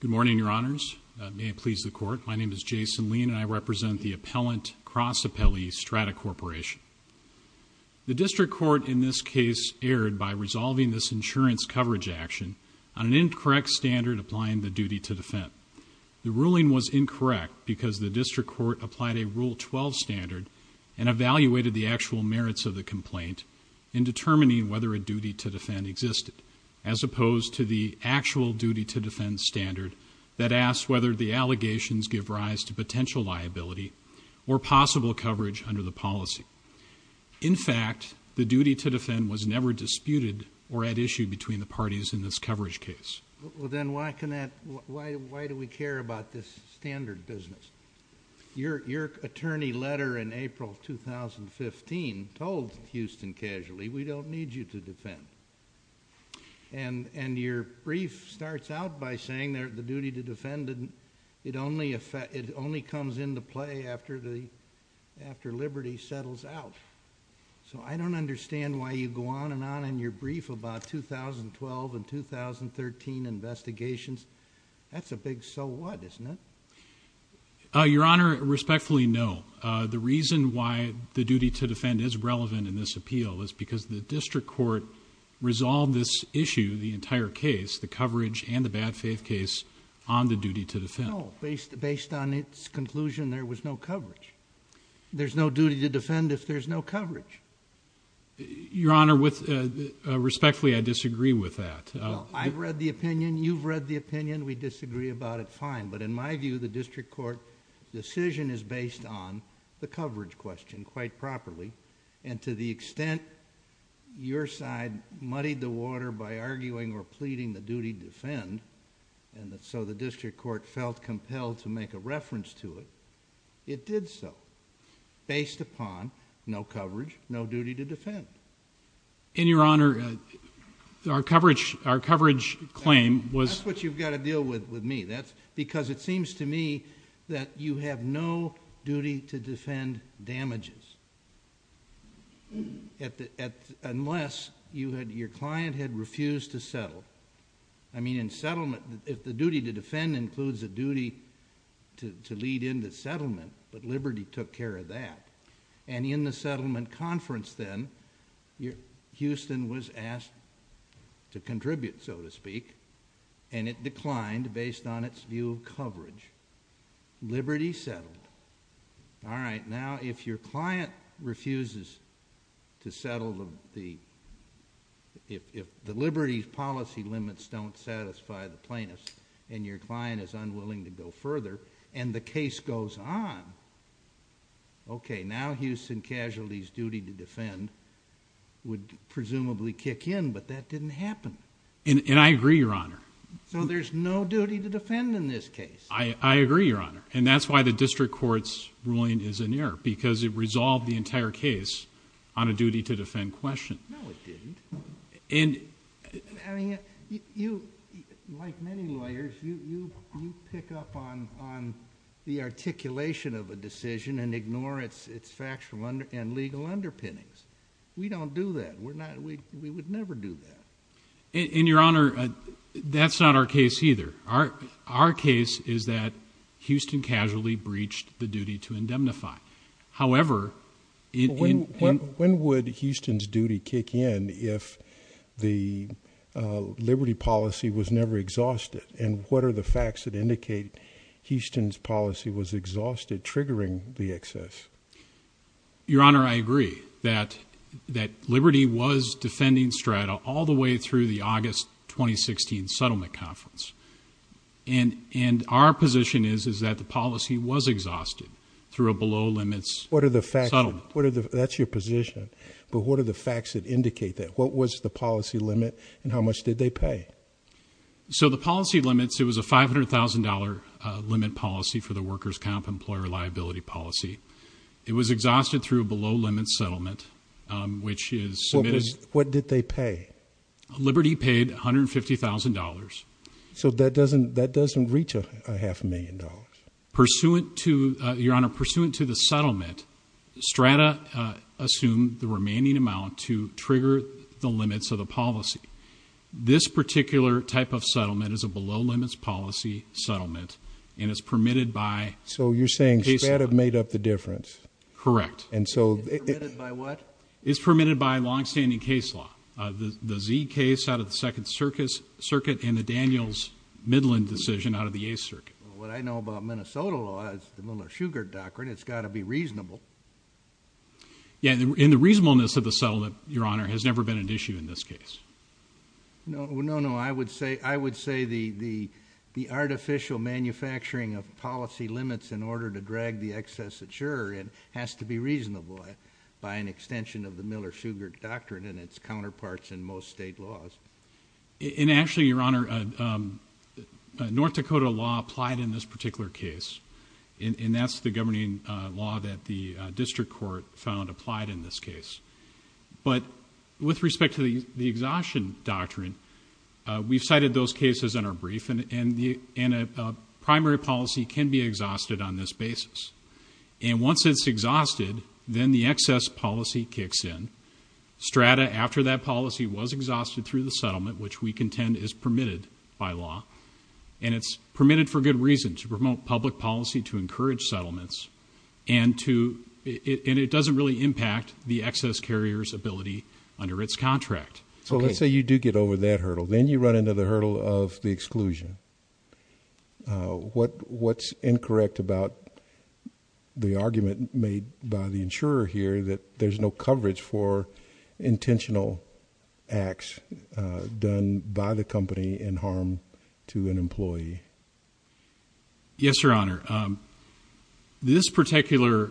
Good morning, Your Honors. May it please the Court, my name is Jason Lean and I represent the Appellant Cross Appellee, Strata Corporation. The District Court in this case erred by resolving this insurance coverage action on an incorrect standard applying the duty to defend. The District Court applied a Rule 12 standard and evaluated the actual merits of the complaint in determining whether a duty to defend existed, as opposed to the actual duty to defend standard that asks whether the allegations give rise to potential liability or possible coverage under the policy. In fact, the duty to defend was never disputed or at issue between the attorney letter in April of 2015 told Houston Casualty, we don't need you to defend. Your brief starts out by saying the duty to defend, it only comes into play after Liberty settles out. I don't understand why you go on and on in your brief about 2012 and 2013 investigations. That's a big so what, isn't it? Your Honor, respectfully, no. The reason why the duty to defend is relevant in this appeal is because the District Court resolved this issue, the entire case, the coverage and the bad faith case, on the duty to defend. No, based on its conclusion, there was no coverage. There's no duty to defend if there's no coverage. Your Honor, respectfully, I disagree with that. Well, I've read the opinion, you've read the opinion, we disagree about it, fine, but in my view, the District Court decision is based on the coverage question quite properly and to the extent your side muddied the water by arguing or pleading the duty to defend and so the District Court felt compelled to say there's no duty to defend. Your Honor, our coverage claim was... That's what you've got to deal with me because it seems to me that you have no duty to defend damages unless your client had refused to settle. I mean, in settlement, if the duty to defend includes a duty to lead in the settlement, but Liberty took care of that and in the settlement conference then, Houston was asked to contribute, so to speak, and it declined based on its view of coverage. Liberty settled. All right, now if your client refuses to settle the... If the Liberty's policy limits don't satisfy the plaintiffs and your client is unwilling to go further and the case goes on, okay, now Houston Casualty's duty to defend would presumably kick in, but that didn't happen. And I agree, Your Honor. So there's no duty to defend in this case. I agree, Your Honor, and that's why the District Court's ruling is an error because it resolved the entire case on a duty to defend question. No, it didn't. I mean, you, like many lawyers, you pick up on the articulation of a decision and ignore its factual and legal underpinnings. We don't do that. We would never do that. And Your Honor, that's not our case either. Our case is that Houston Casualty breached the duty to indemnify. However... When would Houston's duty kick in if the Liberty policy was never exhausted? And what are the facts that indicate Houston's policy was exhausted triggering the excess? Your Honor, I agree that Liberty was defending Strada all the way through the August 2016 settlement conference. And our position is that the policy was exhausted through a below-limits settlement. What are the facts? That's your position. But what are the facts that indicate that? What was the policy limit and how much did they pay? So the policy limits, it was a $500,000 limit policy for the workers' comp employer liability policy. It was exhausted through a below-limits settlement, which is submitted... What did they pay? Liberty paid $150,000. So that doesn't reach a half a million dollars? Pursuant to the settlement, Strada assumed the remaining amount to trigger the limits of the policy. This particular type of settlement is a below-limits policy settlement and is permitted by... So you're saying Strada made up the difference? Correct. And so... It's permitted by what? It's permitted by long-standing case law. The Z case out of the Second Circuit and the Samuels Midland decision out of the Eighth Circuit. What I know about Minnesota law is the Miller-Shugart Doctrine. It's got to be reasonable. Yeah, and the reasonableness of the settlement, Your Honor, has never been an issue in this case. No, no, no. I would say the artificial manufacturing of policy limits in order to drag the excess adjurer in has to be reasonable by an extension of the Miller-Shugart Doctrine and its counterparts in most state laws. And actually, Your Honor, North Dakota law applied in this particular case and that's the governing law that the District Court found applied in this case. But with respect to the exhaustion doctrine, we've cited those cases in our brief and a primary policy can be exhausted on this basis. And once it's exhausted, then the excess policy kicks in. Strata, after that policy was exhausted through the settlement, which we contend is permitted by law. And it's permitted for good reason, to promote public policy, to encourage settlements, and to, and it doesn't really impact the excess carrier's ability under its contract. So let's say you do get over that hurdle. Then you run into the hurdle of the exclusion. What, what's incorrect about the argument made by the insurer here that there's no coverage for intentional acts done by the company in harm to an employee? Yes, Your Honor. This particular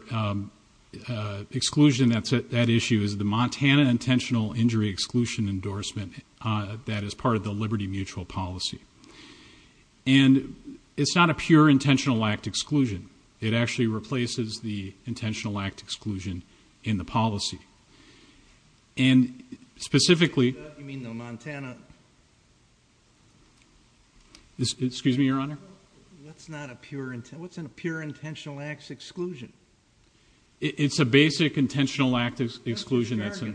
exclusion that's at issue is the Montana Intentional Injury Exclusion Endorsement that is part of the Liberty Mutual Policy. And it's not a pure intentional act exclusion. It actually replaces the intentional act exclusion in the policy. And specifically... You mean the Montana... Excuse me, Your Honor? That's not a pure intent, what's a pure intentional act exclusion? It's a basic intentional act exclusion that's... I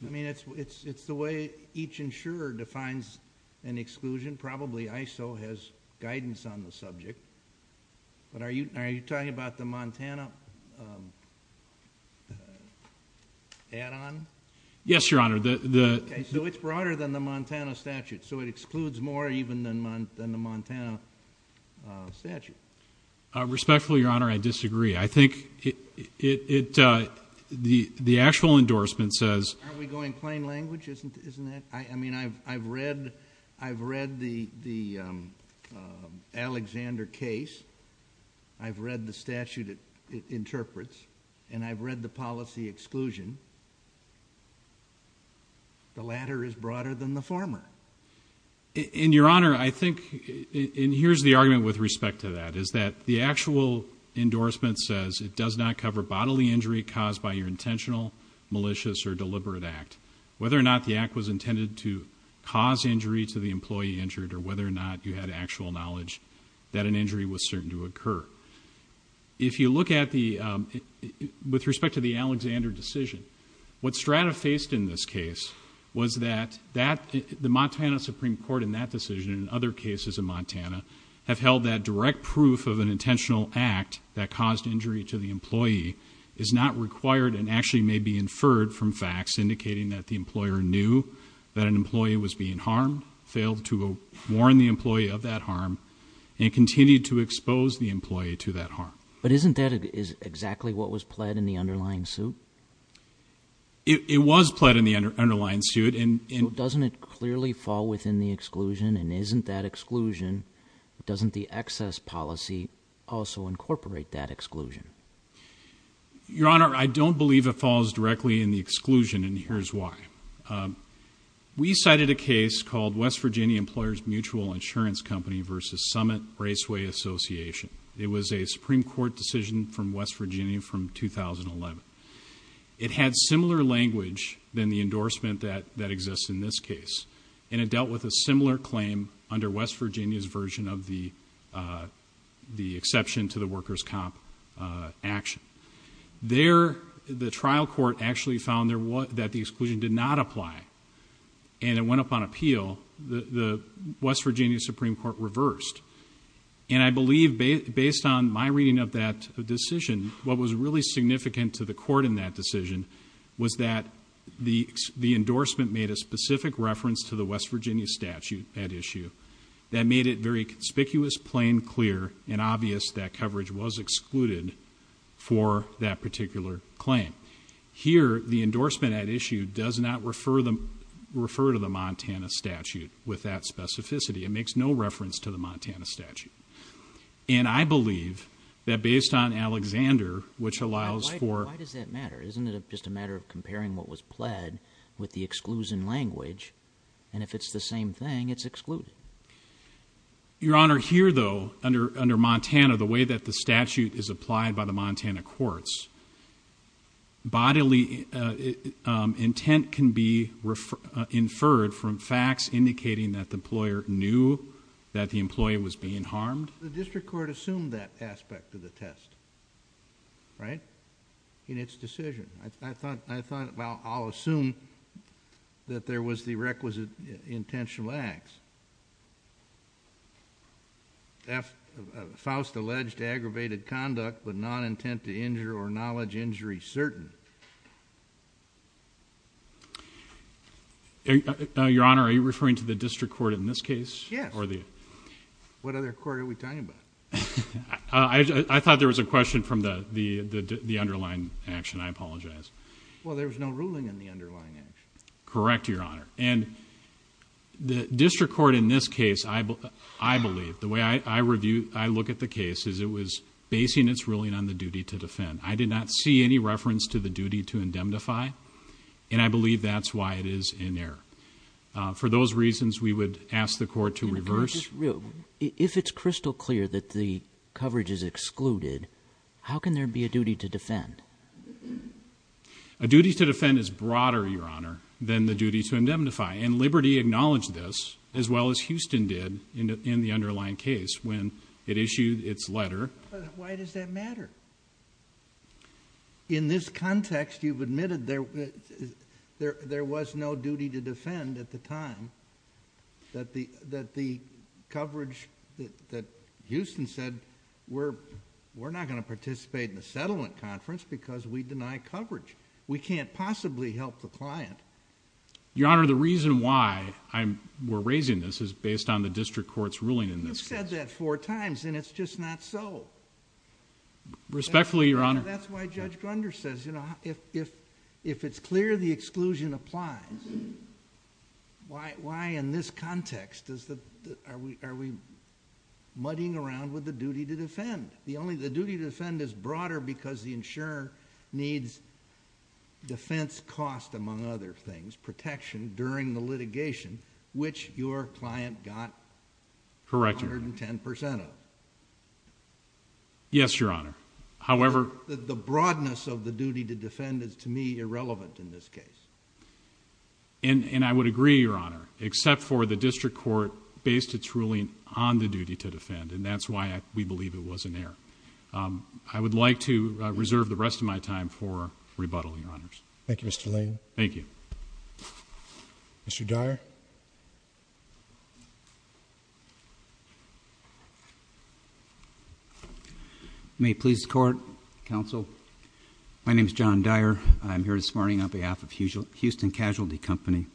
mean, it's the way each insurer defines an exclusion. Probably ISO has guidance on the subject. But are you talking about the Montana, the Montana Intentional Add-on? Yes, Your Honor. So it's broader than the Montana statute. So it excludes more even than the Montana statute. Respectfully, Your Honor, I disagree. I think it, it, the actual endorsement says... Are we going plain language, isn't it? I mean, I've read, I've read the, the Alexander case. I've read the statute it interprets. And I've read the policy exclusion and the latter is broader than the former. And Your Honor, I think, and here's the argument with respect to that, is that the actual endorsement says it does not cover bodily injury caused by your intentional, malicious or deliberate act. Whether or not the act was intended to cause injury to the employee injured or whether or not you had actual knowledge that an injury was certain to occur. If you look at the, with respect to the Alexander decision, what Strata faced in this case was that that, the Montana Supreme Court in that decision and other cases in Montana have held that direct proof of an intentional act that caused injury to the employee is not required and actually may be inferred from facts indicating that the employer knew that an employee was being harmed, failed to warn the employee of that and failed to expose the employee to that harm. But isn't that exactly what was pled in the underlying suit? It was pled in the underlying suit. So doesn't it clearly fall within the exclusion and isn't that exclusion, doesn't the excess policy also incorporate that exclusion? Your Honor, I don't believe it falls directly in the exclusion and here's why. We cited a case called West Virginia Association. It was a Supreme Court decision from West Virginia from 2011. It had similar language than the endorsement that exists in this case and it dealt with a similar claim under West Virginia's version of the exception to the worker's comp action. There the trial court actually found that the exclusion did not apply and it went up on appeal. The West Virginia Supreme Court reversed and I believe based on my reading of that decision, what was really significant to the court in that decision was that the endorsement made a specific reference to the West Virginia statute at issue that made it very conspicuous, plain, clear and obvious that coverage was excluded for that particular claim. Here, the endorsement at issue does not refer to the Montana statute with that specificity. It makes no reference to the Montana statute and I believe that based on Alexander which allows for... Why does that matter? Isn't it just a matter of comparing what was pled with the exclusion language and if it's the same thing, it's excluded? Your Honor, here though under Montana, the way that the statute is applied by the Montana courts, bodily intent can be inferred from facts indicating that the employer knew that the employee was being harmed. The district court assumed that aspect of the test, right, in its decision. I thought I'll assume that there was the requisite intentional acts. Faust alleged aggravated conduct but non-intent to injure or knowledge injury certain. Your Honor, are you referring to the district court in this case? Yes. What other court are we talking about? I thought there was a question from the underlying action. I apologize. Well, there was no ruling in the underlying action. Correct, Your Honor. The district court in this case, I believe, the way I look at the I did not see any reference to the duty to indemnify and I believe that's why it is in there. For those reasons, we would ask the court to reverse... If it's crystal clear that the coverage is excluded, how can there be a duty to defend? A duty to defend is broader, Your Honor, than the duty to indemnify and Liberty acknowledged this as well as Houston did in the underlying case when it issued its letter... Why does that matter? In this context, you've admitted there was no duty to defend at the time that the coverage that Houston said, we're not going to participate in the settlement conference because we deny coverage. We can't possibly help the client. Your Honor, the reason why we're raising this is based on the district court's ruling in this case. We've said that four times and it's just not so. Respectfully, Your Honor. That's why Judge Grunder says if it's clear the exclusion applies, why in this context are we muddying around with the duty to defend? The duty to defend is broader because the insurer needs defense cost, among other things, protection during the litigation which your Yes, Your Honor. However, the broadness of the duty to defend is to me irrelevant in this case. And I would agree, Your Honor, except for the district court based its ruling on the duty to defend and that's why we believe it was in there. I would like to reserve the rest of my time for rebuttal, Your Honors. Thank you, Mr. Lane. Thank you. Mr. Dyer. May it please the court, counsel, my name is John Dyer. I'm here this morning on behalf of Houston Casualty Company.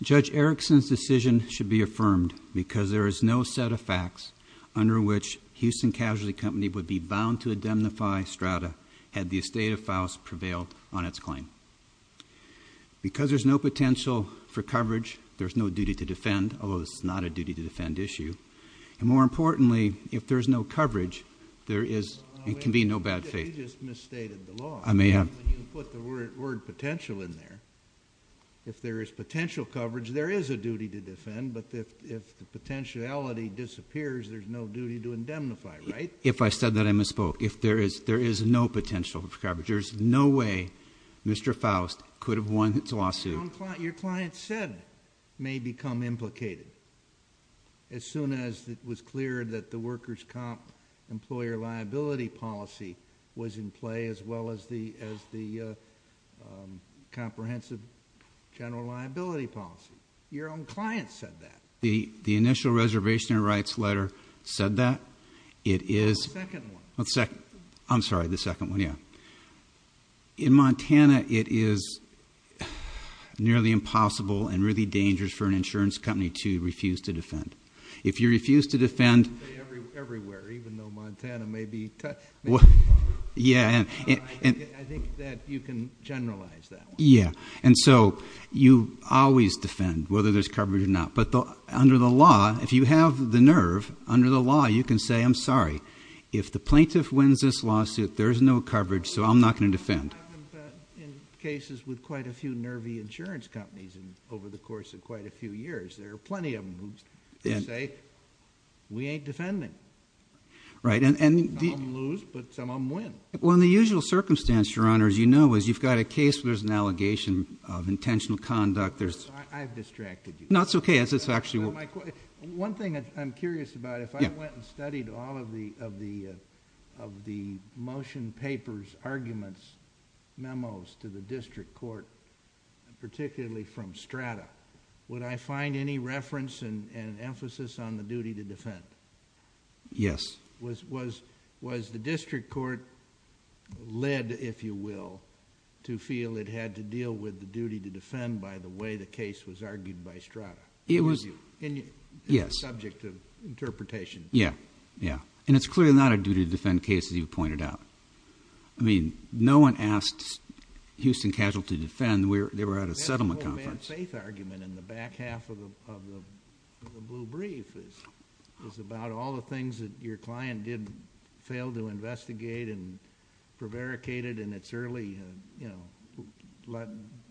Judge Erickson's decision should be affirmed because there is no set of facts under which Houston Casualty Company would be bound to indemnify Strata had the estate of Faust prevailed on its claim. Because there's no potential for coverage, there's no duty to defend, although it's not a duty to defend issue. And more importantly, if there's no coverage, there is and can be no bad faith. You just misstated the law. I may have. When you put the word potential in there, if there is potential coverage, there is a duty to defend, but if the potentiality disappears, there's no duty to indemnify, right? If I said that, I misspoke. If there is, there is no potential for coverage. There's no way Mr. Faust could have won his lawsuit. Your client said may become implicated as soon as it was clear that the workers' comp employer liability policy was in play as well as the comprehensive general liability policy. Your own client said that. The initial reservation and rights letter said that. The second one. I'm sorry, the second one, yeah. In Montana, it is nearly impossible and really dangerous for an insurance company to refuse to defend. If you refuse to defend... Everywhere, even though Montana may be tougher. Yeah. I think that you can generalize that. Yeah, and so you always defend whether there's coverage or not, but under the law, if you have the nerve, under the law, you can say, I'm sorry, if the plaintiff wins this lawsuit, there's no coverage, so I'm not going to defend. I've been in cases with quite a few nervy insurance companies over the course of quite a few years. There are plenty of them who say, we ain't defending. Right. Some of them lose, but some of them win. Well, in the usual circumstance, Your Honor, as you know, is you've got a case where there's an allegation of intentional conduct, there's... I've distracted you. No, it's okay. It's actually... One thing I'm curious about, if I went and studied all of the motion papers, arguments, memos to the district court, particularly from Strata, would I find any reference and emphasis on the duty to defend? Yes. Was the district court led, if you will, to feel it had to deal with the duty to defend by the way the case was argued by Strata? It was, yes. Subject of interpretation. Yeah, yeah, and it's clearly not a duty to defend case as you pointed out. I mean, no one asked Houston Casualty to defend. They were at a settlement conference. That whole bad faith argument in the back half of the blue brief is about all the things that your client did fail to investigate and prevaricated in its early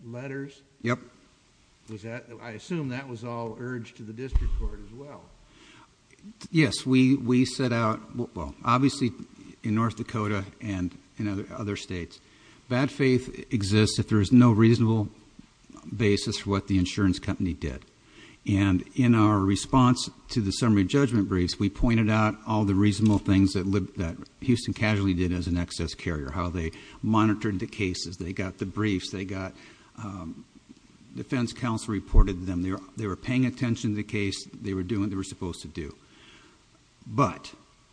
letters? Yep. I assume that was all urged to the district court as well. Yes, we set out, well, obviously in North Dakota and in other states, bad faith exists if there is no reasonable basis for what the insurance company did. And in our response to the summary judgment briefs, we pointed out all the reasonable things that Houston Casualty did as an excess carrier, how they monitored the cases, they got the briefs, they got... defense counsel reported them. They were paying attention to the case. They were doing what they were supposed to do. But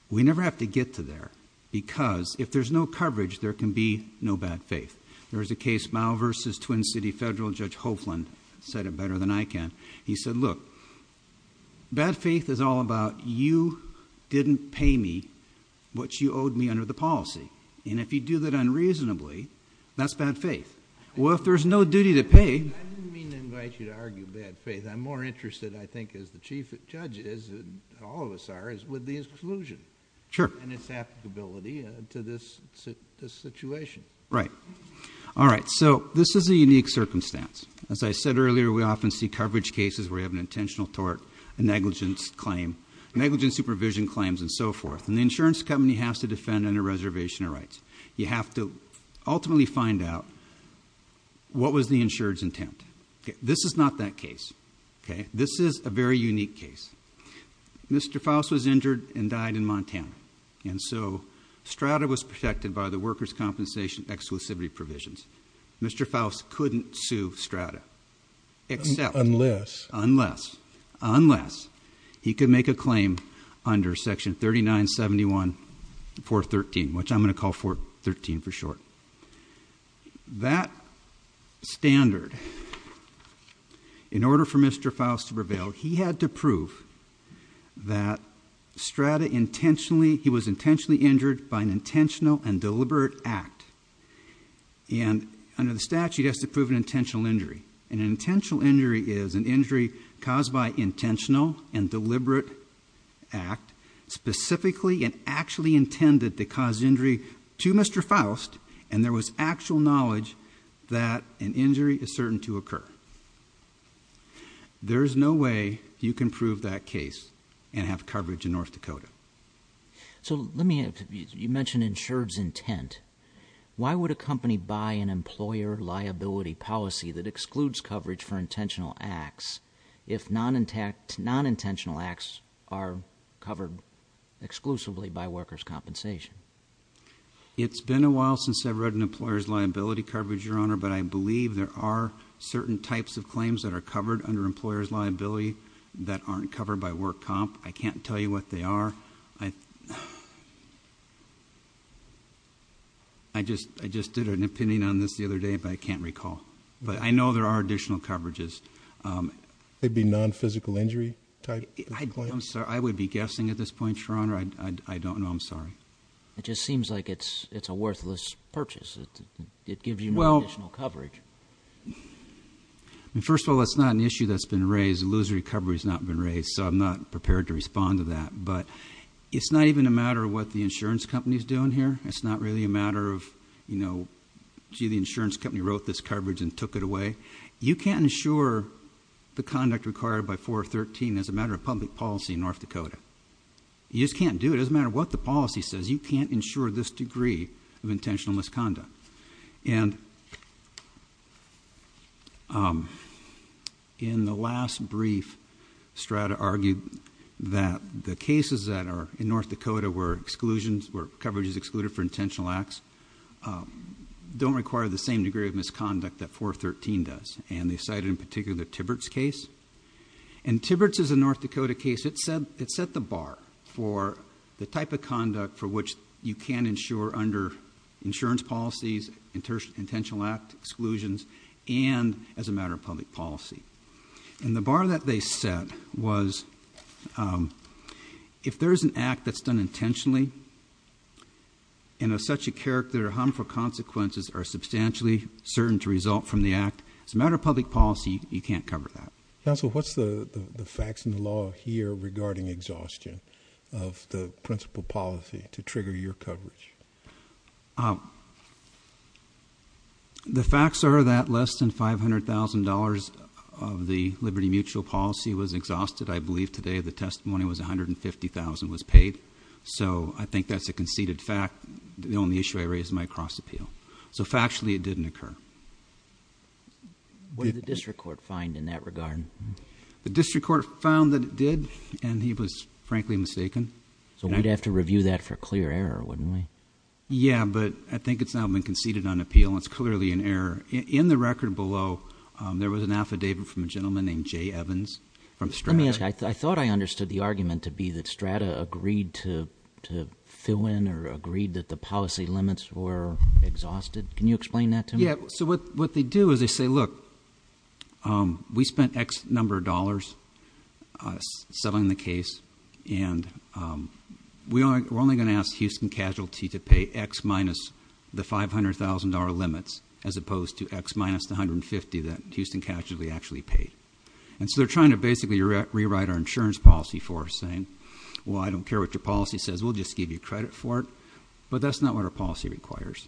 we never have to get to there because if there's no coverage, there can be no bad faith. There was a case, Mouw v. Twin City Federal Judge Hofland said it better than I can. He said, look, bad faith is all about you didn't pay me what you owed me under the policy. And if you do that unreasonably, that's bad faith. Well, if there's no duty to pay... I didn't mean to invite you to argue bad faith. I'm more interested, I think, as the Chief Judge is, all of us are, is with the exclusion. Sure. And its applicability to this situation. Right. All right. So this is a unique circumstance. As I said earlier, we often see coverage cases where you have an intentional tort, a negligence claim, negligence supervision claims, and so forth. And the insurance company has to defend under reservation of rights. You have to ultimately find out what was the insured's intent. This is not that case. Mr. Faust was injured and died in Montana. And so STRATA was protected by the workers' compensation exclusivity provisions. Mr. Faust couldn't sue STRATA. Unless... Unless. Unless he could make a claim under section 3971.413, which I'm going to call 413 for short. That standard, in order for Mr. Faust to prevail, he had to prove that STRATA intentionally, he was intentionally injured by an intentional and deliberate act. And under the statute, it has to prove an intentional injury. An intentional injury is an injury caused by intentional and deliberate act, specifically and actually intended to cause injury to Mr. Faust. And there was actual knowledge that an injury is certain to occur. There is no way you can prove that case and have coverage in North Dakota. So let me ask you, you mentioned insured's intent. Why would a company buy an employer liability policy that excludes coverage for intentional acts if non-intentional acts are covered exclusively by workers' compensation? It's been a while since I've read an employer's liability coverage, Your Honor, but I believe there are certain types of claims that are covered under employer's liability that aren't covered by work comp. I can't tell you what they are. I just did an opinion on this the other day, but I can't recall. But I know there are additional coverages. They'd be non-physical injury type? I would be guessing at this point, Your Honor. I don't know. I'm sorry. It just seems like it's a worthless purchase. It gives you no additional coverage. First of all, it's not an issue that's been raised. Illusory coverage has not been raised, so I'm not prepared to respond to that. But it's not even a matter of what the insurance company is doing here. It's not really a matter of, you know, gee, the insurance company wrote this coverage and took it away. You can't insure the conduct required by 413 as a matter of public policy in North Dakota. You just can't do it. It doesn't matter what the policy says. You can't insure this degree of intentional misconduct. And in the last brief, Strata argued that the cases that are in North Dakota where coverage is excluded for intentional acts don't require the same degree of misconduct that 413 does. And they cited in particular the Tibberts case. And Tibberts is a North Dakota case. It set the bar for the type of conduct for which you can insure under insurance policies, intentional act exclusions, and as a matter of public policy. And the bar that they set was if there is an act that's done intentionally and of such a character, harmful consequences are substantially certain to result from the act, as a matter of public policy, you can't cover that. Counsel, what's the facts in the law here regarding exhaustion of the principal policy to trigger your coverage? The facts are that less than $500,000 of the Liberty Mutual policy was exhausted. I believe today the testimony was $150,000 was paid. So I think that's a conceded fact. The only issue I raise is my cross appeal. So factually, it didn't occur. What did the district court find in that regard? The district court found that it did, and he was frankly mistaken. So we'd have to review that for clear error, wouldn't we? Yeah, but I think it's not been conceded on appeal. It's clearly an error. In the record below, there was an affidavit from a gentleman named Jay Evans from Strata. Let me ask, I thought I understood the argument to be that Strata agreed to fill in Can you explain that to me? So what they do is they say, look, we spent X number of dollars settling the case, and we're only going to ask Houston Casualty to pay X minus the $500,000 limits, as opposed to X minus the $150,000 that Houston Casualty actually paid. And so they're trying to basically rewrite our insurance policy for us, saying, well, I don't care what your policy says, we'll just give you credit for it. But that's not what our policy requires.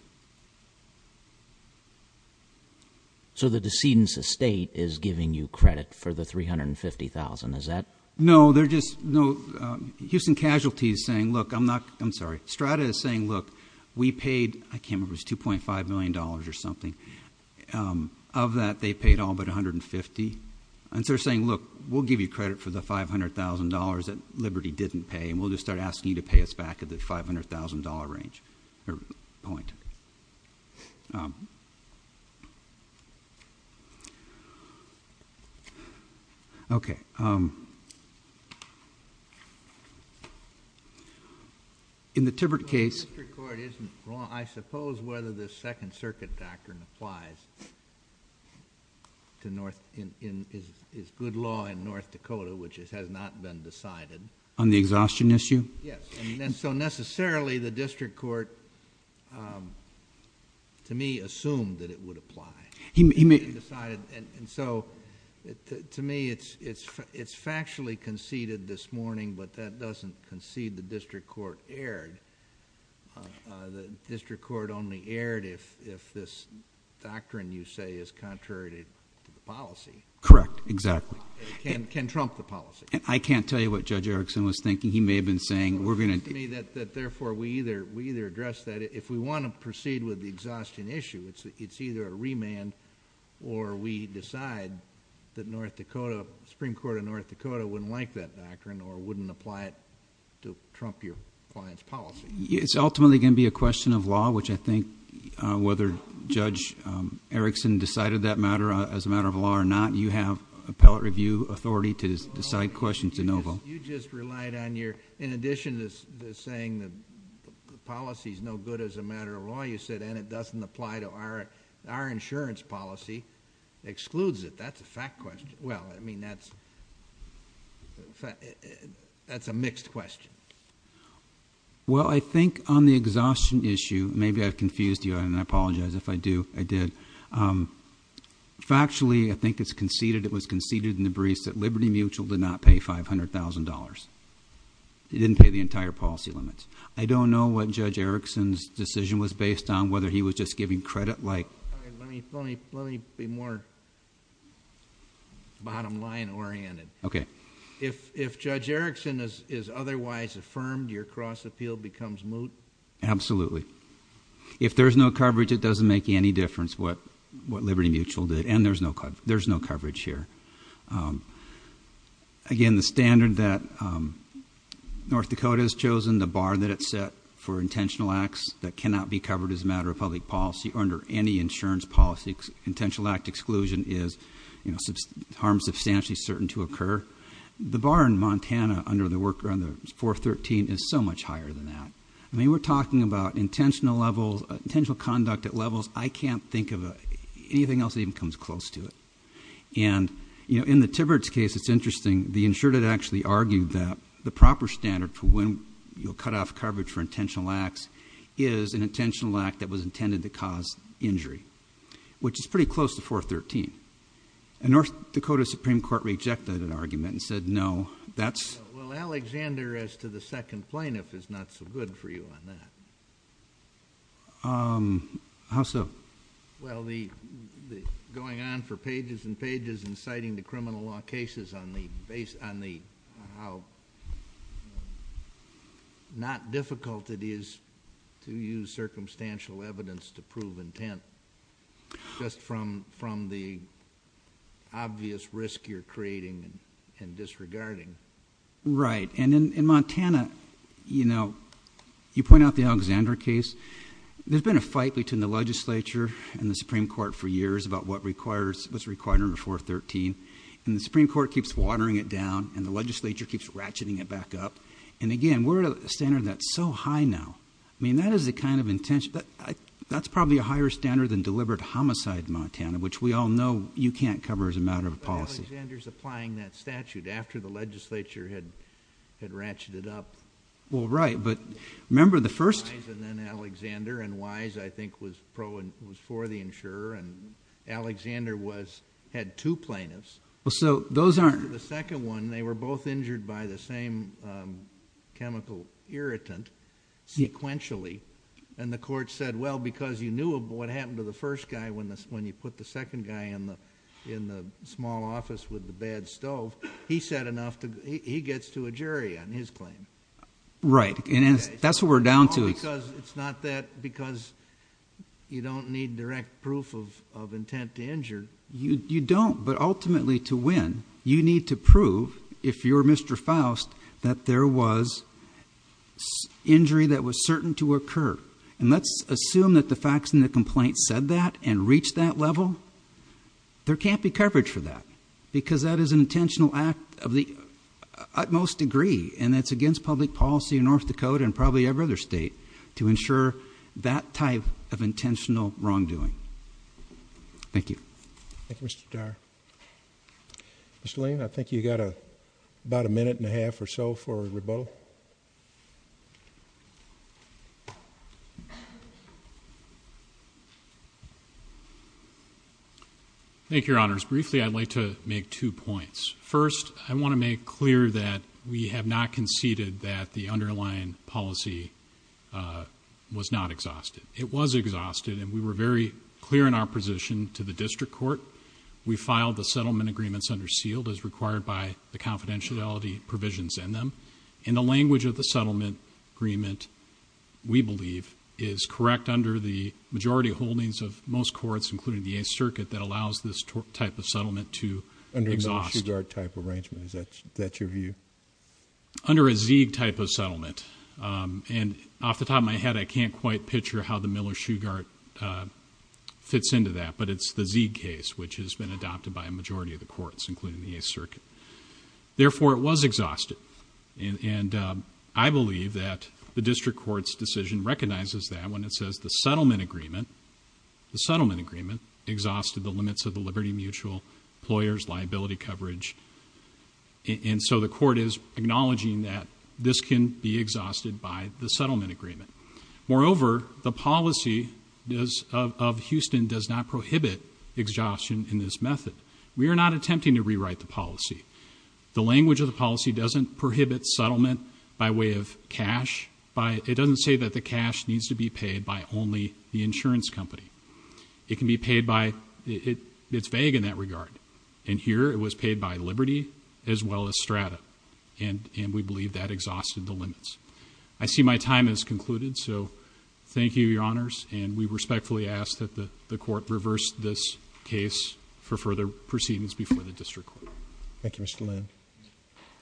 So the decedent's estate is giving you credit for the $350,000, is that- No, they're just, no. Houston Casualty is saying, look, I'm not, I'm sorry. Strata is saying, look, we paid, I can't remember, it was $2.5 million or something. Of that, they paid all but $150,000. And so they're saying, look, we'll give you credit for the $500,000 that Liberty didn't pay, and we'll just start asking you to pay us back at the $500,000 range, or point. Okay. In the Tibbert case- Well, the district court isn't wrong. I suppose whether the Second Circuit doctrine applies to North, is good law in North Dakota, which has not been decided. On the exhaustion issue? Yes. And so necessarily, the district court, to me, assumed that it would apply. He may... He decided, and so, to me, it's factually conceded this morning, but that doesn't concede the district court erred. The district court only erred if this doctrine you say is contrary to the policy. Correct, exactly. It can trump the policy. I can't tell you what Judge Erickson was thinking. He may have been saying, we're going to... It seems to me that, therefore, we either address that. If we want to proceed with the exhaustion issue, it's either a remand, or we decide that the Supreme Court of North Dakota wouldn't like that doctrine, or wouldn't apply it to trump your client's policy. It's ultimately going to be a question of law, which I think whether Judge Erickson decided that matter as a matter of law or not, you have appellate review authority to decide questions in Oval. You just relied on your... In addition to saying the policy is no good as a matter of law, you said, and it doesn't apply to our insurance policy. It excludes it. That's a fact question. Well, I mean, that's a mixed question. Well, I think on the exhaustion issue... Maybe I've confused you, and I apologize if I did. Factually, I think it was conceded in the briefs that Liberty Mutual did not pay $500,000. It didn't pay the entire policy limits. I don't know what Judge Erickson's decision was based on, whether he was just giving credit like... Let me be more bottom line oriented. Okay. If Judge Erickson is otherwise affirmed, your cross appeal becomes moot? Absolutely. If there's no coverage, it doesn't make any difference what Liberty Mutual did, and there's no coverage here. Again, the standard that North Dakota has chosen, the bar that it set for intentional acts that cannot be covered as a matter of public policy under any insurance policy, intentional act exclusion is harm substantially certain to occur. The bar in Montana under 413 is so much higher than that. I mean, we're talking about intentional conduct at levels... I can't think of anything else that even comes close to it. In the Tibberidge case, it's interesting. The insured had actually argued that the proper standard for when you'll cut off coverage for intentional acts is an intentional act that was intended to cause injury, which is pretty close to 413. A North Dakota Supreme Court rejected that argument and said, no, that's... Well, Alexander, as to the second plaintiff, is not so good for you on that. How so? Well, going on for pages and pages and citing the criminal law cases on how not difficult it is to use circumstantial evidence to prove intent just from the obvious risk you're creating and disregarding. Right. In Montana, you point out the Alexander case. There's been a fight between the legislature and the Supreme Court for years about what's required under 413. The Supreme Court keeps watering it down, and the legislature keeps ratcheting it back up. And again, we're at a standard that's so high now. I mean, that is the kind of intention... That's probably a higher standard than deliberate homicide in Montana, which we all know you can't cover as a matter of policy. But Alexander's applying that statute after the legislature had ratcheted up. Well, right, but remember the first... Wise and then Alexander, and Wise, I think, was for the insurer, and Alexander had two plaintiffs. So those aren't...... chemical irritant sequentially. And the court said, well, because you knew what happened to the first guy when you put the second guy in the small office with the bad stove, he gets to a jury on his claim. Right, and that's what we're down to. It's not that because you don't need direct proof of intent to injure. You don't, but ultimately to win, you need to prove, if you're Mr. Faust, that there was injury that was certain to occur. And let's assume that the facts in the complaint said that and reached that level. There can't be coverage for that, because that is an intentional act of the utmost degree, and it's against public policy in North Dakota and probably every other state to ensure that type of intentional wrongdoing. Thank you. Thank you, Mr. Dyer. Mr. Lane, I think you've got about a minute and a half or so for rebuttal. Thank you, Your Honors. Briefly, I'd like to make two points. First, I want to make clear that we have not conceded that the underlying policy was not exhausted. It was exhausted, and we were very clear in our position to the district court. We filed the settlement agreements under sealed as required by the confidentiality provisions in them. And the language of the settlement agreement, we believe, is correct under the majority holdings of most courts, including the Eighth Circuit, that allows this type of settlement to exhaust. Under a Miller-Sugar type arrangement, is that your view? Under a Zeig type of settlement. And off the top of my head, I can't quite picture how the Miller-Sugar fits into that, but it's the Zeig case, which has been adopted by a majority of the courts, including the Eighth Circuit. Therefore, it was exhausted. And I believe that the district court's decision recognizes that when it says the settlement agreement, the settlement agreement exhausted the limits of the liberty mutual, employers' liability coverage. And so the court is acknowledging that this can be exhausted by the settlement agreement. Moreover, the policy of Houston does not prohibit exhaustion in this method. We are not attempting to rewrite the policy. The language of the policy doesn't prohibit settlement by way of cash. It doesn't say that the cash needs to be paid by only the insurance company. It can be paid by, it's vague in that regard. And here, it was paid by liberty as well as strata, and we believe that exhausted the limits. I see my time has concluded, so thank you, Your Honors, and we respectfully ask that the court reverse this case for further proceedings before the district court. Thank you, Mr. Lynn.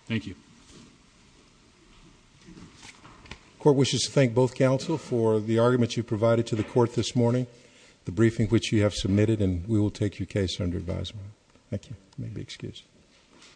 Thank you. The court wishes to thank both counsel for the arguments you provided to the court this morning, the briefing which you have submitted, and we will take your case under advisement. Thank you. You may be excused.